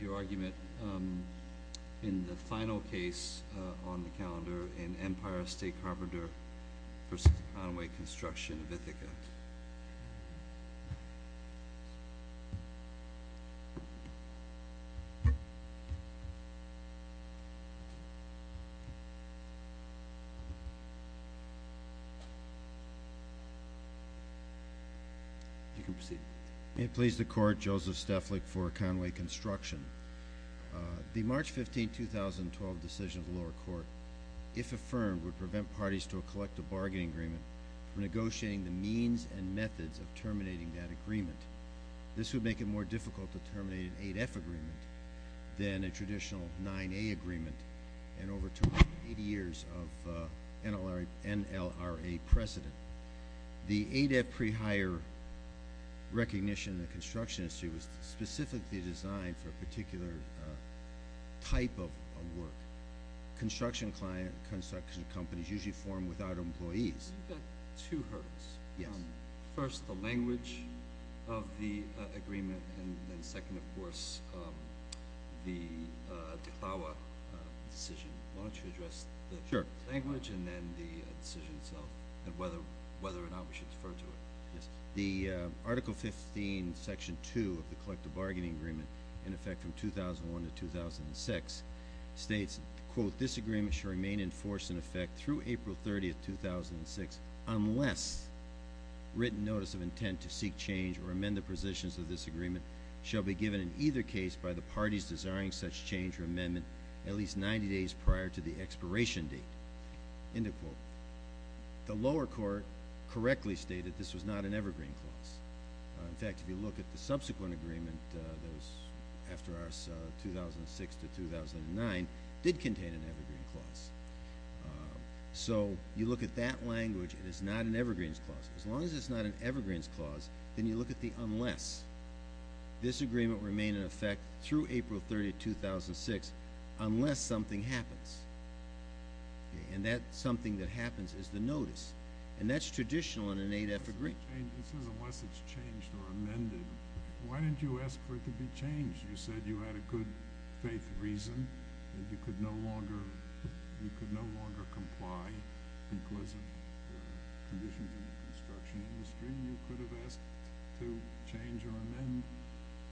Your argument in the final case on the calendar in Empire State Carpenters versus Conway Construction of Ithaca. May it please the Court, Joseph Steflik for Conway Construction. The March 15, 2012, decision of the lower court, if affirmed, would prevent parties to a collective bargaining agreement from negotiating the means and methods of terminating that agreement. This would make it more difficult to terminate an 8F agreement than a traditional 9A agreement and overturn 80 years of NLRA precedent. The 8F pre-hire recognition in the construction industry was specifically designed for a particular type of work. Construction client, construction companies usually form without employees. You've got two hurdles. Yes. First, the language of the agreement, and then second, of course, the CLAWA decision. Why don't you address the language and then the decision itself, and whether or not we should defer to it. Yes. The Article 15, Section 2 of the Collective Bargaining Agreement, in effect from 2001 to 2006, states, quote, this agreement shall remain in force, in effect, through April 30, 2006, unless written notice of intent to seek change or amend the positions of this agreement shall be given in either case by the parties desiring such change or amendment at least 90 days prior to the expiration date, end of quote. The lower court correctly stated this was not an evergreen clause. In fact, if you look at the subsequent agreement that was after our 2006 to 2009, it did contain an evergreen clause. So you look at that language, it is not an evergreen clause. As long as it's not an evergreen clause, then you look at the unless. This agreement remained in effect through April 30, 2006, unless something happens. And that something that happens is the notice. And that's traditional in an 8F agreement. It says unless it's changed or amended. Why didn't you ask for it to be changed? You said you had a good faith reason that you could no longer comply because of conditions in the construction industry. You could have asked to change or amend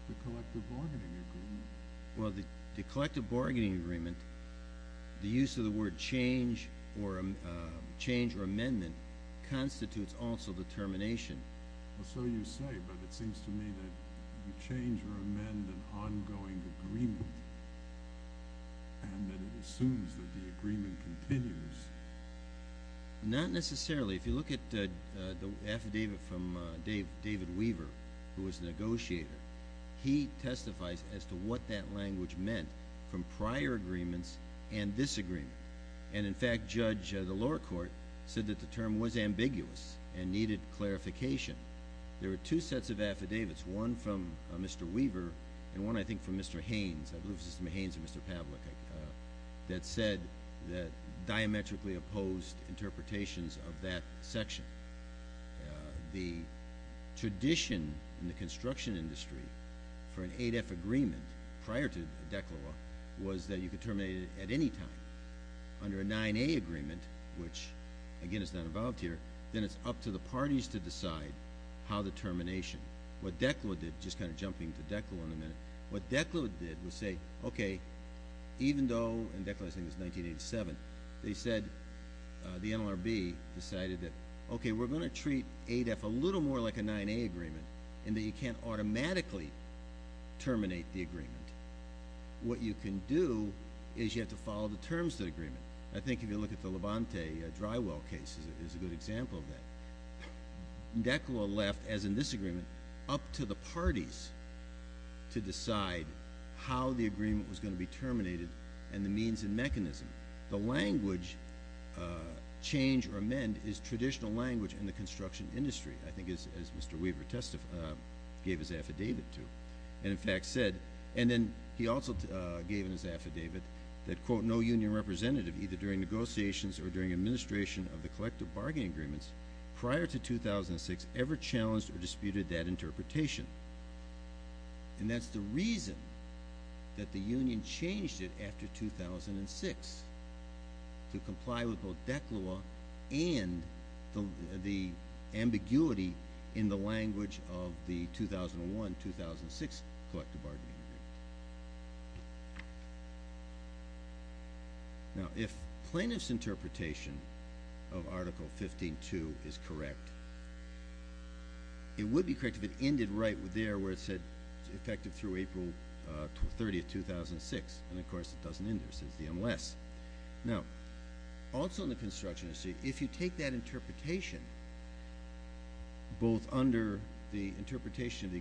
the Collective Bargaining Agreement. Well, the Collective Bargaining Agreement, the use of the word change or amendment constitutes also determination. Well, so you say. But it seems to me that you change or amend an ongoing agreement and that it assumes that the agreement continues. Not necessarily. If you look at the affidavit from David Weaver, who was the negotiator, he testifies as to what that language meant from prior agreements and this agreement. And, in fact, Judge, the lower court said that the term was ambiguous and needed clarification. There were two sets of affidavits, one from Mr. Weaver and one, I think, from Mr. Haynes, I believe it was Mr. Haynes or Mr. Pavlik, that said that diametrically opposed interpretations of that section. The tradition in the construction industry for an 8F agreement prior to DECLA was that you could terminate it at any time. Under a 9A agreement, which, again, is not involved here, then it's up to the parties to decide how the termination. What DECLA did, just kind of jumping to DECLA in a minute, what DECLA did was say, okay, even though, and DECLA, I think, was 1987, they said, the NLRB decided that, okay, we're going to treat 8F a little more like a 9A agreement in that you can't automatically terminate the agreement. What you can do is you have to follow the terms of the agreement. I think if you look at the Labonte drywall case is a good example of that. DECLA left, as in this agreement, up to the parties to decide how the agreement was going to be terminated and the means and mechanism. The language, change or amend, is traditional language in the construction industry, I think, as Mr. Weaver gave his affidavit to and, in fact, said. Then he also gave in his affidavit that, quote, no union representative, either during negotiations or during administration of the collective bargaining agreements prior to 2006, ever challenged or disputed that interpretation. That's the reason that the union changed it after 2006 to comply with both DECLA and the NLRB. Now, if plaintiff's interpretation of Article 15.2 is correct, it would be correct if it ended right there where it said effective through April 30, 2006, and, of course, it doesn't end there. It says the unless. Now, also in the construction industry, if you take that interpretation, both under the NLRB and the NLRB,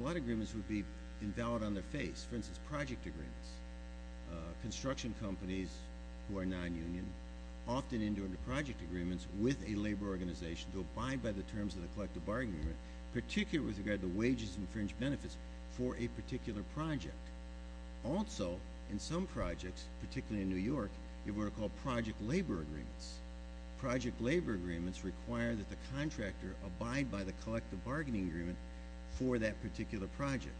a lot of agreements would be invalid on their face, for instance, project agreements. Construction companies who are nonunion often enter into project agreements with a labor organization to abide by the terms of the collective bargaining agreement, particularly with regard to wages and fringe benefits for a particular project. Also in some projects, particularly in New York, you have what are called project labor agreements. Project labor agreements require that the contractor abide by the collective bargaining agreement for that particular project.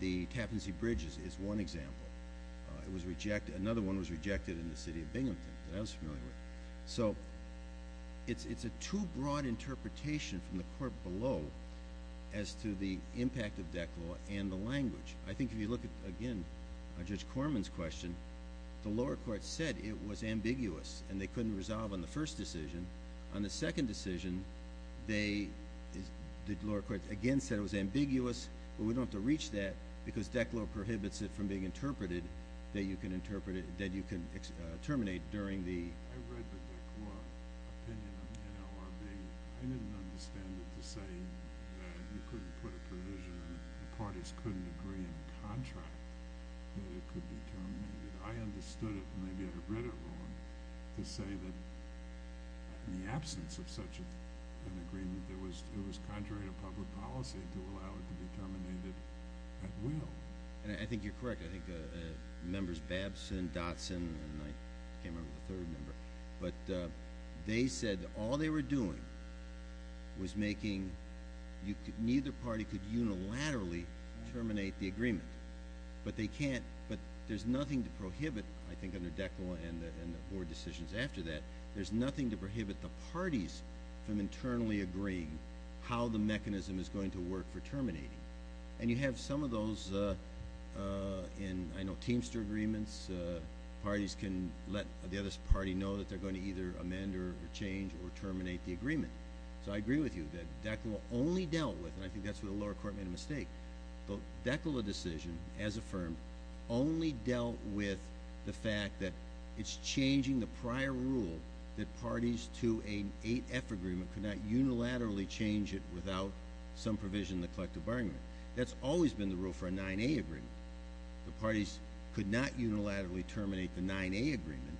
The Tappan Zee Bridge is one example. Another one was rejected in the city of Binghamton that I was familiar with. It's a too broad interpretation from the court below as to the impact of DECLA and the language. I think if you look at, again, Judge Corman's question, the lower court said it was ambiguous and they couldn't resolve on the first decision. On the second decision, the lower court again said it was ambiguous, but we don't have to reach that because DECLA prohibits it from being interpreted that you can terminate during the... I read the DECLA opinion on the NLRB. I didn't understand it to say that you couldn't put a provision and the parties couldn't agree in the contract that it could be terminated. I understood it when I read it. I don't understand it at all to say that in the absence of such an agreement, it was contrary to public policy to allow it to be terminated at will. I think you're correct. I think members Babson, Dotson, and I can't remember the third member, but they said all they were doing was making... neither party could unilaterally terminate the agreement, but they can't... but there's nothing to prohibit, I think under DECLA and the board decisions after that, there's nothing to prohibit the parties from internally agreeing how the mechanism is going to work for terminating. And you have some of those in, I know, Teamster Agreements. Parties can let the other party know that they're going to either amend or change or terminate the agreement. So I agree with you that DECLA only dealt with, and I think that's where the lower court made a mistake, but DECLA decision, as affirmed, only dealt with the fact that it's changing the prior rule that parties to an 8F agreement could not unilaterally change it without some provision in the collective bargaining agreement. That's always been the rule for a 9A agreement. The parties could not unilaterally terminate the 9A agreement,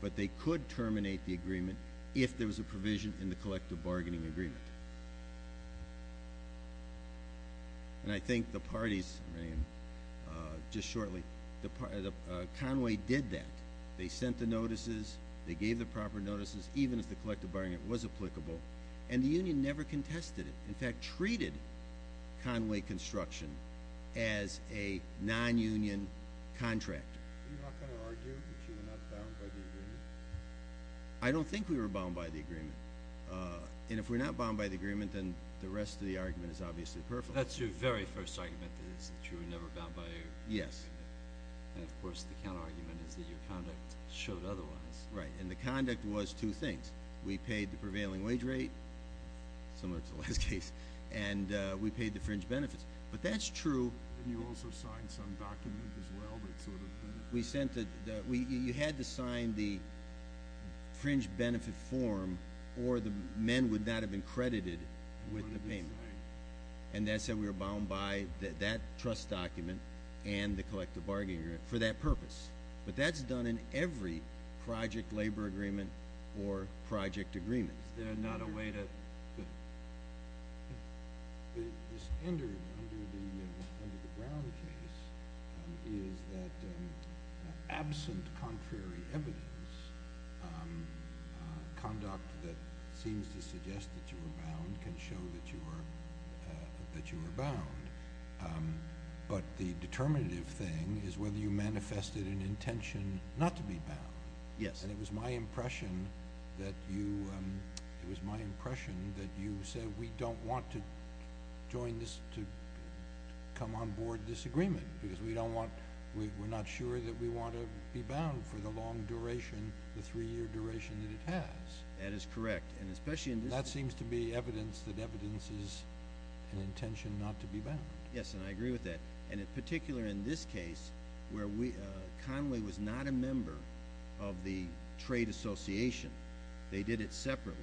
but they could terminate the agreement if there was a provision in the collective bargaining agreement. And I think the parties... just shortly... Conway did that. They sent the notices. They gave the proper notices, even if the collective bargaining agreement was applicable. And the union never contested it, in fact, treated Conway Construction as a non-union contractor. Are you not going to argue that you were not bound by the agreement? I don't think we were bound by the agreement. And if we're not bound by the agreement, then the rest of the argument is obviously perfect. That's your very first argument, is that you were never bound by the agreement. Yes. And, of course, the counterargument is that your conduct showed otherwise. Right. And the conduct was two things. We paid the prevailing wage rate, similar to the last case, and we paid the fringe benefits. But that's true... And you also signed some document as well that sort of... We sent the... we... you had to sign the fringe benefit form or the men would not have been credited with the payment. And that said, we were bound by that trust document and the collective bargaining agreement for that purpose. But that's done in every project labor agreement or project agreement. Is there not a way to... The standard under the Brown case is that absent contrary evidence, conduct that seems to suggest that you were bound can show that you were bound. But the determinative thing is whether you manifested an intention not to be bound. Yes. And it was my impression that you... it was my impression that you said we don't want to join this... to come on board this agreement because we don't want... we're not sure that we want to be bound for the long duration, the three-year duration that it has. That is correct. And especially in this... That seems to be evidence that evidence is an intention not to be bound. Yes. And I agree with that. And in particular in this case where we... Conway was not a member of the trade association. They did it separately.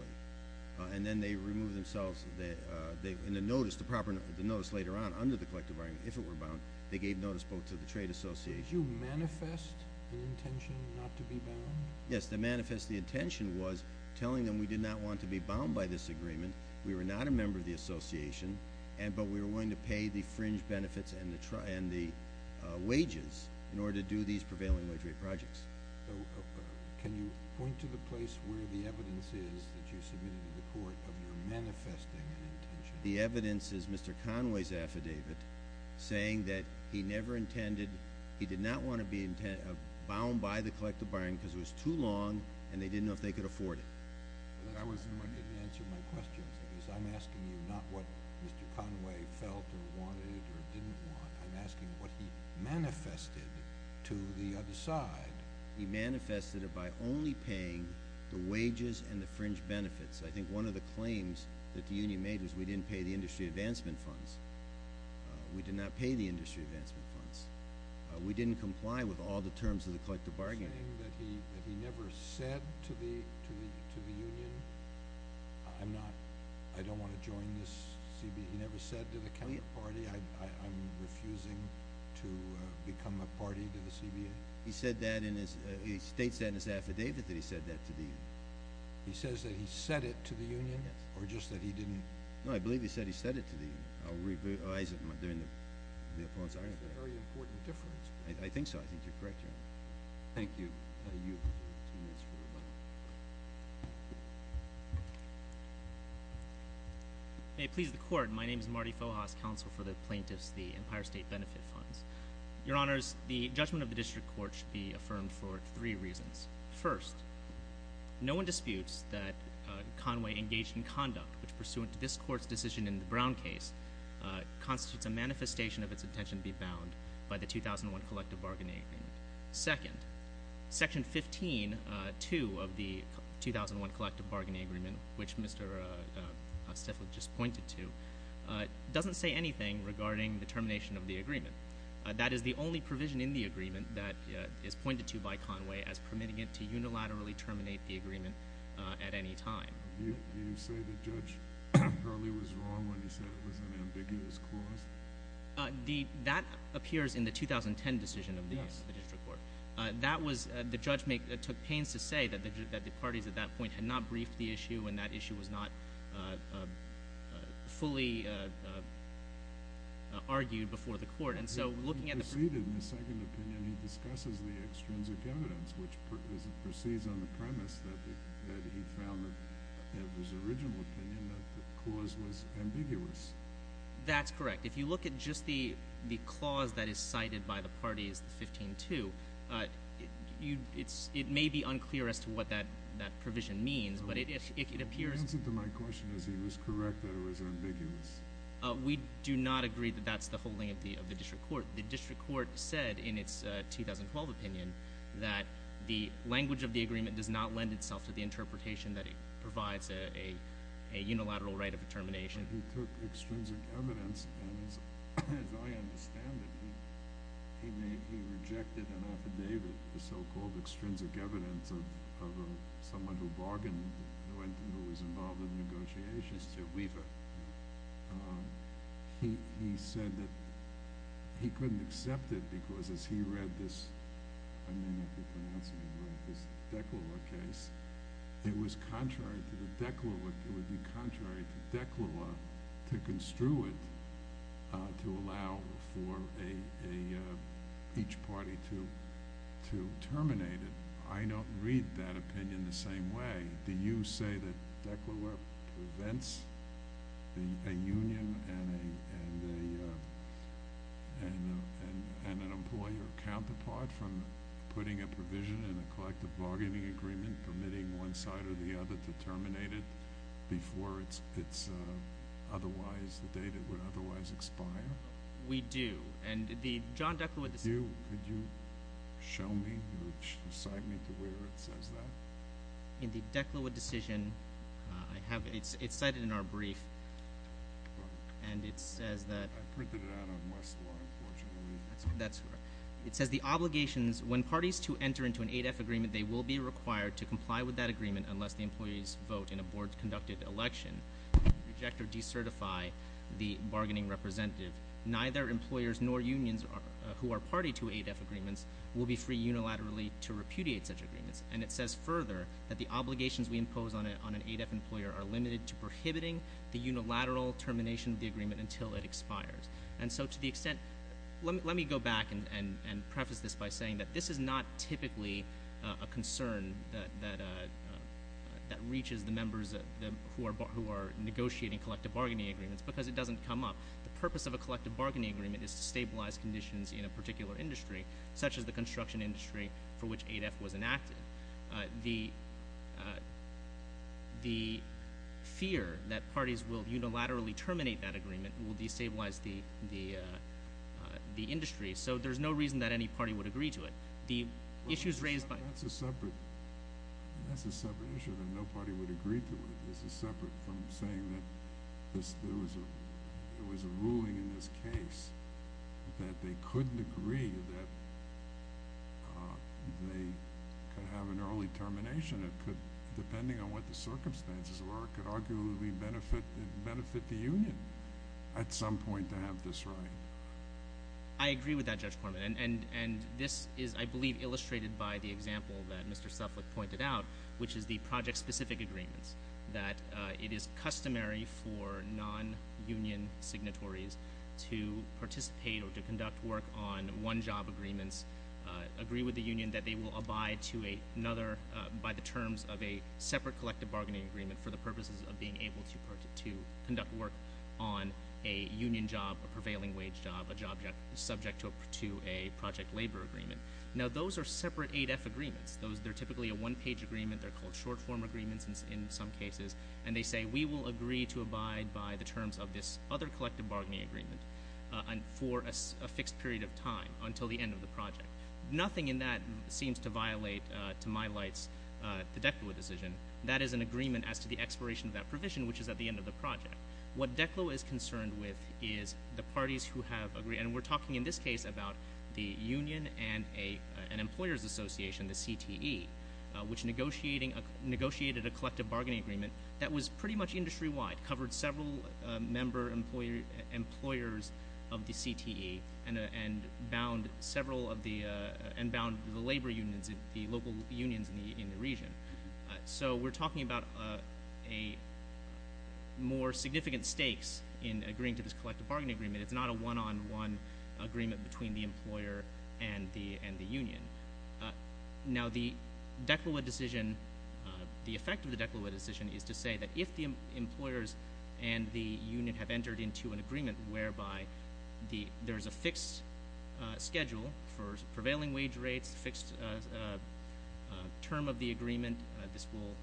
And then they removed themselves... they... in the notice, the proper notice later on under the collective bargaining, if it were bound, they gave notice both to the trade association... Did you manifest an intention not to be bound? Yes. The manifest... the intention was telling them we did not want to be bound by this agreement. We were not a member of the association, but we were willing to pay the fringe benefits and the... and the wages in order to do these prevailing wage rate projects. So, can you point to the place where the evidence is that you submitted to the court of your manifesting an intention? The evidence is Mr. Conway's affidavit saying that he never intended... he did not want to be bound by the collective bargaining because it was too long and they didn't know if they could afford it. And I wasn't going to answer my questions because I'm asking you not what Mr. Conway felt or wanted or didn't want. I'm asking what he manifested to the other side. He manifested it by only paying the wages and the fringe benefits. I think one of the claims that the union made was we didn't pay the industry advancement funds. We did not pay the industry advancement funds. We didn't comply with all the terms of the collective bargaining. Saying that he never said to the union, I'm not... I don't want to join this... he never said to the county party, I'm refusing to become a party to the CBA. He said that in his... he states that in his affidavit that he said that to the union. He says that he said it to the union? Yes. Or just that he didn't... No, I believe he said he said it to the union. I'll revise it during the appellant's argument. That's a very important difference. I think so. I think you're correct, Your Honor. Thank you. You have two minutes for rebuttal. May it please the court, my name is Marty Fohas, counsel for the plaintiffs, the Empire State Benefit Funds. Your Honors, the judgment of the district court should be affirmed for three reasons. First, no one disputes that Conway engaged in conduct, which pursuant to this court's decision in the Brown case, constitutes a manifestation of its intention to be bound by the 2001 collective bargaining agreement. Second, Section 15.2 of the 2001 collective bargaining agreement, which Mr. Stifler just pointed to, doesn't say anything regarding the termination of the agreement. That is the only provision in the agreement that is pointed to by Conway as permitting it to unilaterally terminate the agreement at any time. You say the judge probably was wrong when he said it was an ambiguous clause? That appears in the 2010 decision of the district court. The judge took pains to say that the parties at that point had not briefed the issue and that issue was not fully argued before the court. He proceeded in his second opinion, he discusses the extrinsic evidence, which proceeds on the premise that he found in his original opinion that the clause was ambiguous. That's correct. If you look at just the clause that is cited by the parties, the 15.2, it may be unclear as to what that provision means, but it appears... The answer to my question is he was correct that it was ambiguous. We do not agree that that's the holding of the district court. The district court said in its 2012 opinion that the language of the agreement does not lend itself to the interpretation that it provides a unilateral right of termination. He took extrinsic evidence and, as I understand it, he rejected an affidavit, the so-called extrinsic evidence of someone who bargained, who was involved in negotiations, Weaver. He said that he couldn't accept it because as he read this, I may not be pronouncing it right, this Decluar case, it was contrary to the Decluar, it would be contrary to Decluar to construe it to allow for each party to terminate it. I don't read that opinion the same way. Do you say that Decluar prevents a union and an employer counterpart from putting a provision in a collective bargaining agreement permitting one side or the other to terminate it before it's otherwise, the date it would otherwise expire? We do, and the John Decluar decision... Could you show me or cite me to where it says that? In the Decluar decision, it's cited in our brief, and it says that... I printed it out on Westlaw, unfortunately. It says the obligations when parties to enter into an ADEF agreement, they will be required to comply with that agreement unless the employees vote in a board-conducted election, reject or decertify the bargaining representative. Neither employers nor unions who are party to ADEF agreements will be free unilaterally to repudiate such agreements, and it says further that the obligations we impose on an ADEF employer are limited to prohibiting the unilateral termination of the agreement until it expires. And so to the extent, let me go back and preface this by saying that this is not typically a concern that reaches the members who are negotiating collective bargaining agreements because it doesn't come up. The purpose of a collective bargaining agreement is to stabilize conditions in a particular industry, such as the construction industry for which ADEF was enacted. The fear that parties will unilaterally terminate that agreement will destabilize the industry, so there's no reason that any party would agree to it. The issues raised by... That's a separate issue that no party would agree to it. This is separate from saying that there was a ruling in this case that they couldn't agree that they could have an early termination depending on what the circumstances were. It could arguably benefit the union at some point to have this right. I agree with that, Judge Corman. And this is, I believe, illustrated by the example that Mr. Suffolk pointed out, which is the project-specific agreements, that it is customary for non-union signatories to participate or to conduct work on one-job agreements, of a separate collective bargaining agreement for the purposes of being able to conduct work on a union job, a prevailing wage job, a job subject to a project labor agreement. Now, those are separate ADEF agreements. They're typically a one-page agreement. They're called short-form agreements in some cases, and they say, we will agree to abide by the terms of this other collective bargaining agreement for a fixed period of time, until the end of the project. Nothing in that seems to violate, to my lights, the DECLO decision. That is an agreement as to the expiration of that provision, which is at the end of the project. What DECLO is concerned with is the parties who have agreed, and we're talking in this case about the union and an employer's association, the CTE, which negotiated a collective bargaining agreement that was pretty much industry-wide, covered several member employers of the CTE and bound several of the labor unions, the local unions in the region. So we're talking about more significant stakes in agreeing to this collective bargaining agreement. It's not a one-on-one agreement between the employer and the union. Now, the effect of the DECLO decision is to say that if the employers and the union have entered into an agreement whereby there is a fixed schedule for prevailing wage rates, a fixed term of the agreement, this will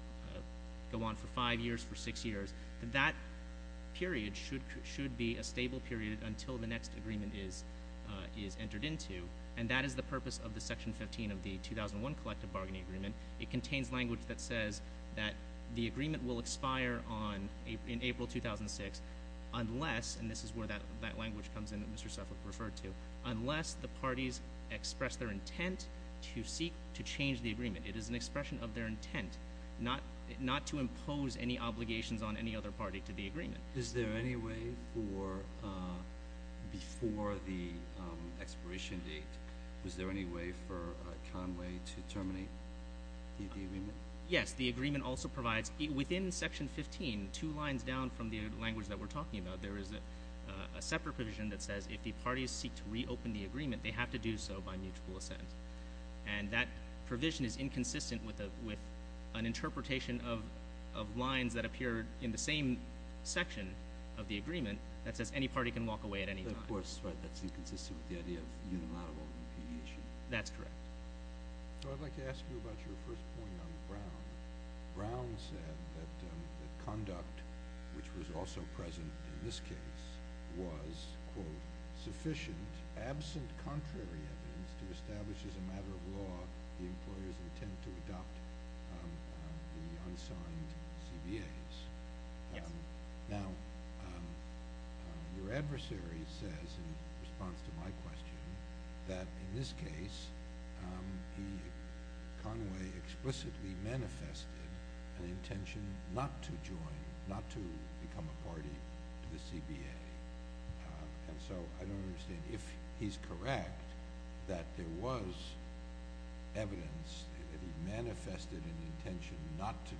go on for five years, for six years, that that period should be a stable period until the next agreement is entered into. And that is the purpose of the Section 15 of the 2001 Collective Bargaining Agreement. It contains language that says that the agreement will expire in April 2006 unless, and this is where that language comes in that Mr. Suffolk referred to, unless the parties express their intent to seek to change the agreement. It is an expression of their intent not to impose any obligations on any other party to the agreement. Is there any way for, before the expiration date, was there any way for Conway to terminate the agreement? Yes. The agreement also provides, within Section 15, two lines down from the language that we're talking about, there is a separate provision that says if the parties seek to reopen the agreement, they have to do so by mutual assent. And that provision is inconsistent with an interpretation of lines that appear in the same section of the agreement that says any party can walk away at any time. Of course, that's inconsistent with the idea of unilateral impedition. That's correct. So I'd like to ask you about your first point on Brown. Brown said that the conduct, which was also present in this case, was, quote, absent contrary evidence to establish as a matter of law the employer's intent to adopt the unsigned CBAs. Yes. Now, your adversary says, in response to my question, that in this case, Conway explicitly manifested an intention not to join, not to become a party to the CBA. And so I don't understand. If he's correct that there was evidence that he manifested an intention not to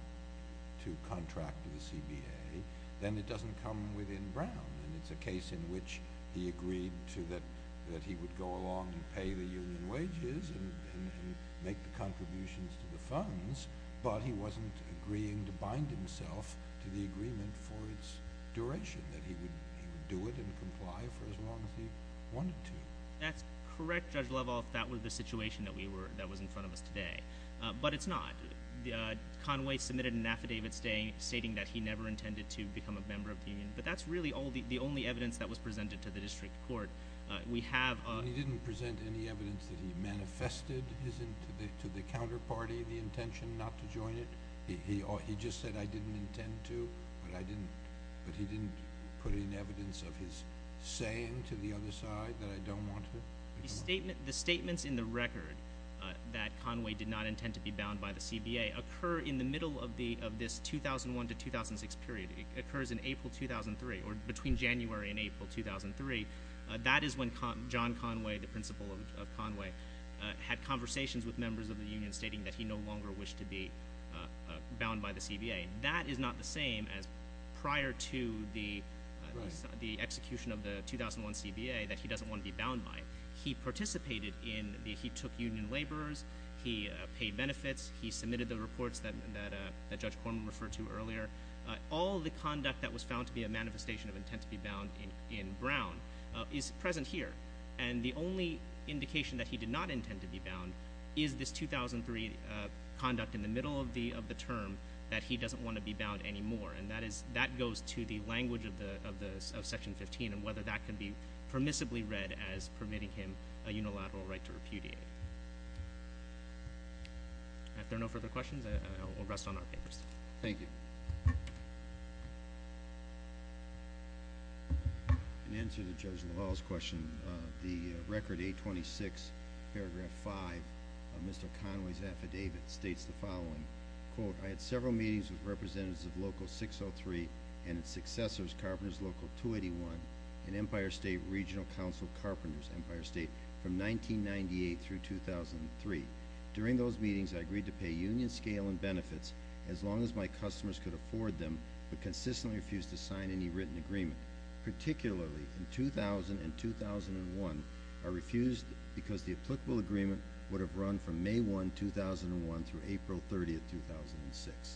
contract the CBA, then it doesn't come within Brown. And it's a case in which he agreed that he would go along and pay the union wages and make the contributions to the funds, but he wasn't agreeing to bind himself to the agreement for its duration, that he would do it and comply for as long as he wanted to. That's correct, Judge Lovell, if that were the situation that was in front of us today. But it's not. Conway submitted an affidavit stating that he never intended to become a member of the union. But that's really the only evidence that was presented to the district court. He didn't present any evidence that he manifested to the counterparty the intention not to join it? He just said, I didn't intend to, but he didn't put in evidence of his saying to the other side that I don't want to? The statements in the record that Conway did not intend to be bound by the CBA occur in the middle of this 2001 to 2006 period. It occurs in April 2003, or between January and April 2003. That is when John Conway, the principal of Conway, had conversations with members of the union stating that he no longer wished to be bound by the CBA. That is not the same as prior to the execution of the 2001 CBA that he doesn't want to be bound by. He participated in, he took union laborers, he paid benefits, he submitted the reports that Judge Corman referred to earlier. All the conduct that was found to be a manifestation of intent to be bound in Brown is present here. And the only indication that he did not intend to be bound is this 2003 conduct in the middle of the term that he doesn't want to be bound anymore. And that goes to the language of Section 15 and whether that can be permissibly read as permitting him a unilateral right to repudiate. If there are no further questions, we'll rest on our papers. Thank you. In answer to Judge LaValle's question, the Record 826, Paragraph 5 of Mr. Conway's affidavit states the following. Quote, I had several meetings with representatives of Local 603 and its successors, Carpenters Local 281, and Empire State Regional Council Carpenters Empire State from 1998 through 2003. During those meetings, I agreed to pay union scale and benefits as long as my customers could afford them but consistently refused to sign any written agreement. Particularly in 2000 and 2001, I refused because the applicable agreement would have run from May 1, 2001, through April 30, 2006.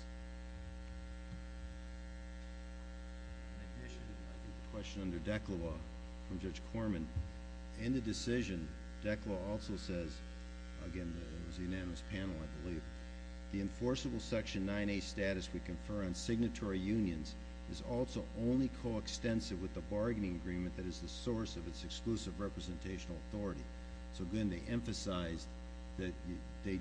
A question under DECLA law from Judge Corman. In the decision, DECLA also says, again, it was a unanimous panel, I believe, the enforceable Section 9A status we confer on signatory unions is also only coextensive with the bargaining agreement that is the source of its exclusive representational authority. So, again, they emphasized that they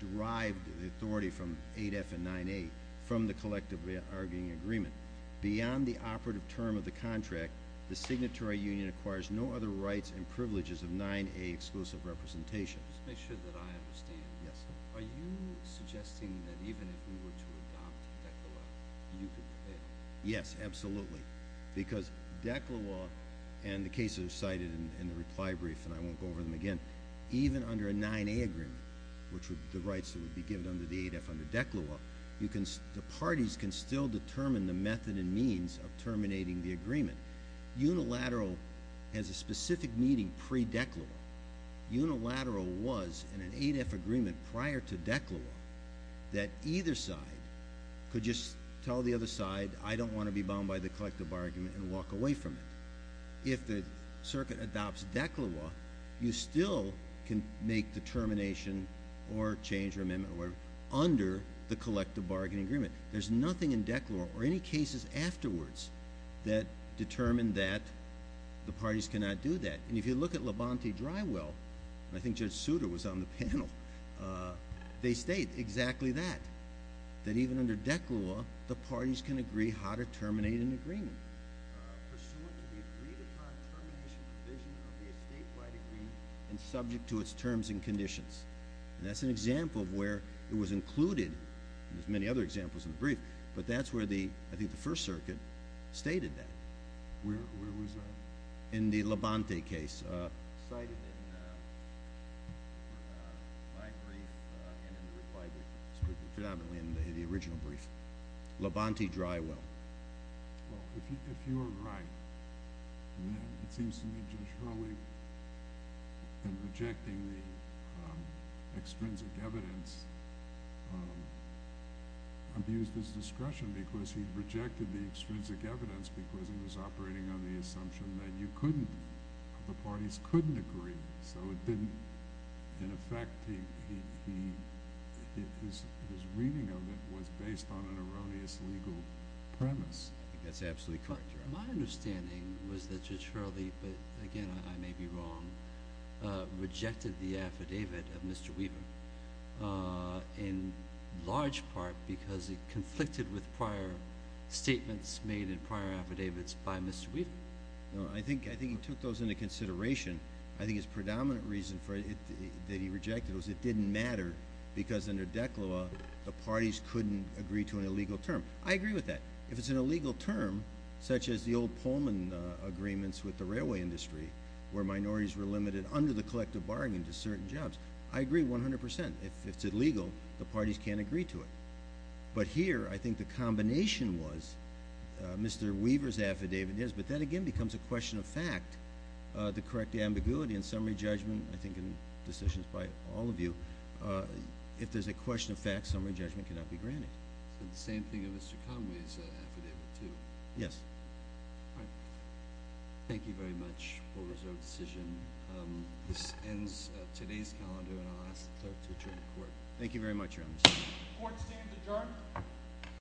derived the authority from 8F and 9A from the collective bargaining agreement. Beyond the operative term of the contract, the signatory union acquires no other rights and privileges of 9A exclusive representation. Just to make sure that I understand. Yes, sir. Are you suggesting that even if we were to adopt DECLA law, you could pay? Yes, absolutely. Because DECLA law and the cases cited in the reply brief, and I won't go over them again, even under a 9A agreement, which would be the rights that would be given under the 8F under DECLA law, the parties can still determine the method and means of terminating the agreement. Unilateral has a specific meaning pre-DECLA law. Unilateral was, in an 8F agreement prior to DECLA law, that either side could just tell the other side, I don't want to be bound by the collective bargaining and walk away from it. If the circuit adopts DECLA law, you still can make the termination or change or amendment under the collective bargaining agreement. There's nothing in DECLA law or any cases afterwards that determine that the parties cannot do that. And if you look at Labonte-Drywell, and I think Judge Souter was on the panel, they state exactly that, that even under DECLA law, the parties can agree how to terminate an agreement. Pursuant to the agreed-upon termination provision of the estate by degree and subject to its terms and conditions. And that's an example of where it was included, and there's many other examples in the brief, but that's where the, I think the First Circuit, stated that. Where was that? In the Labonte case. Cited in my brief and in the required brief, predominantly in the original brief. Labonte-Drywell. Well, if you are right, then it seems to me Judge Hurley, in rejecting the extrinsic evidence, abused his discretion because he rejected the extrinsic evidence because he was operating on the assumption that you couldn't, the parties couldn't agree. So it didn't, in effect, his reading of it was based on an erroneous legal premise. I think that's absolutely correct. My understanding was that Judge Hurley, but again I may be wrong, rejected the affidavit of Mr. Weaver. In large part because it conflicted with prior statements made in prior affidavits by Mr. Weaver. No, I think he took those into consideration. I think his predominant reason for it that he rejected was it didn't matter because under DEC law the parties couldn't agree to an illegal term. I agree with that. If it's an illegal term, such as the old Pullman agreements with the railway industry where minorities were limited under the collective bargain to certain jobs, I agree 100%. If it's illegal, the parties can't agree to it. But here, I think the combination was Mr. Weaver's affidavit is, but that again becomes a question of fact. The correct ambiguity in summary judgment, I think in decisions by all of you, if there's a question of fact, summary judgment cannot be granted. The same thing in Mr. Conway's affidavit too. Yes. All right. Thank you very much for the reserved decision. This ends today's calendar and I'll ask the clerk to adjourn the Court. Thank you very much, Your Honor. Court stands adjourned.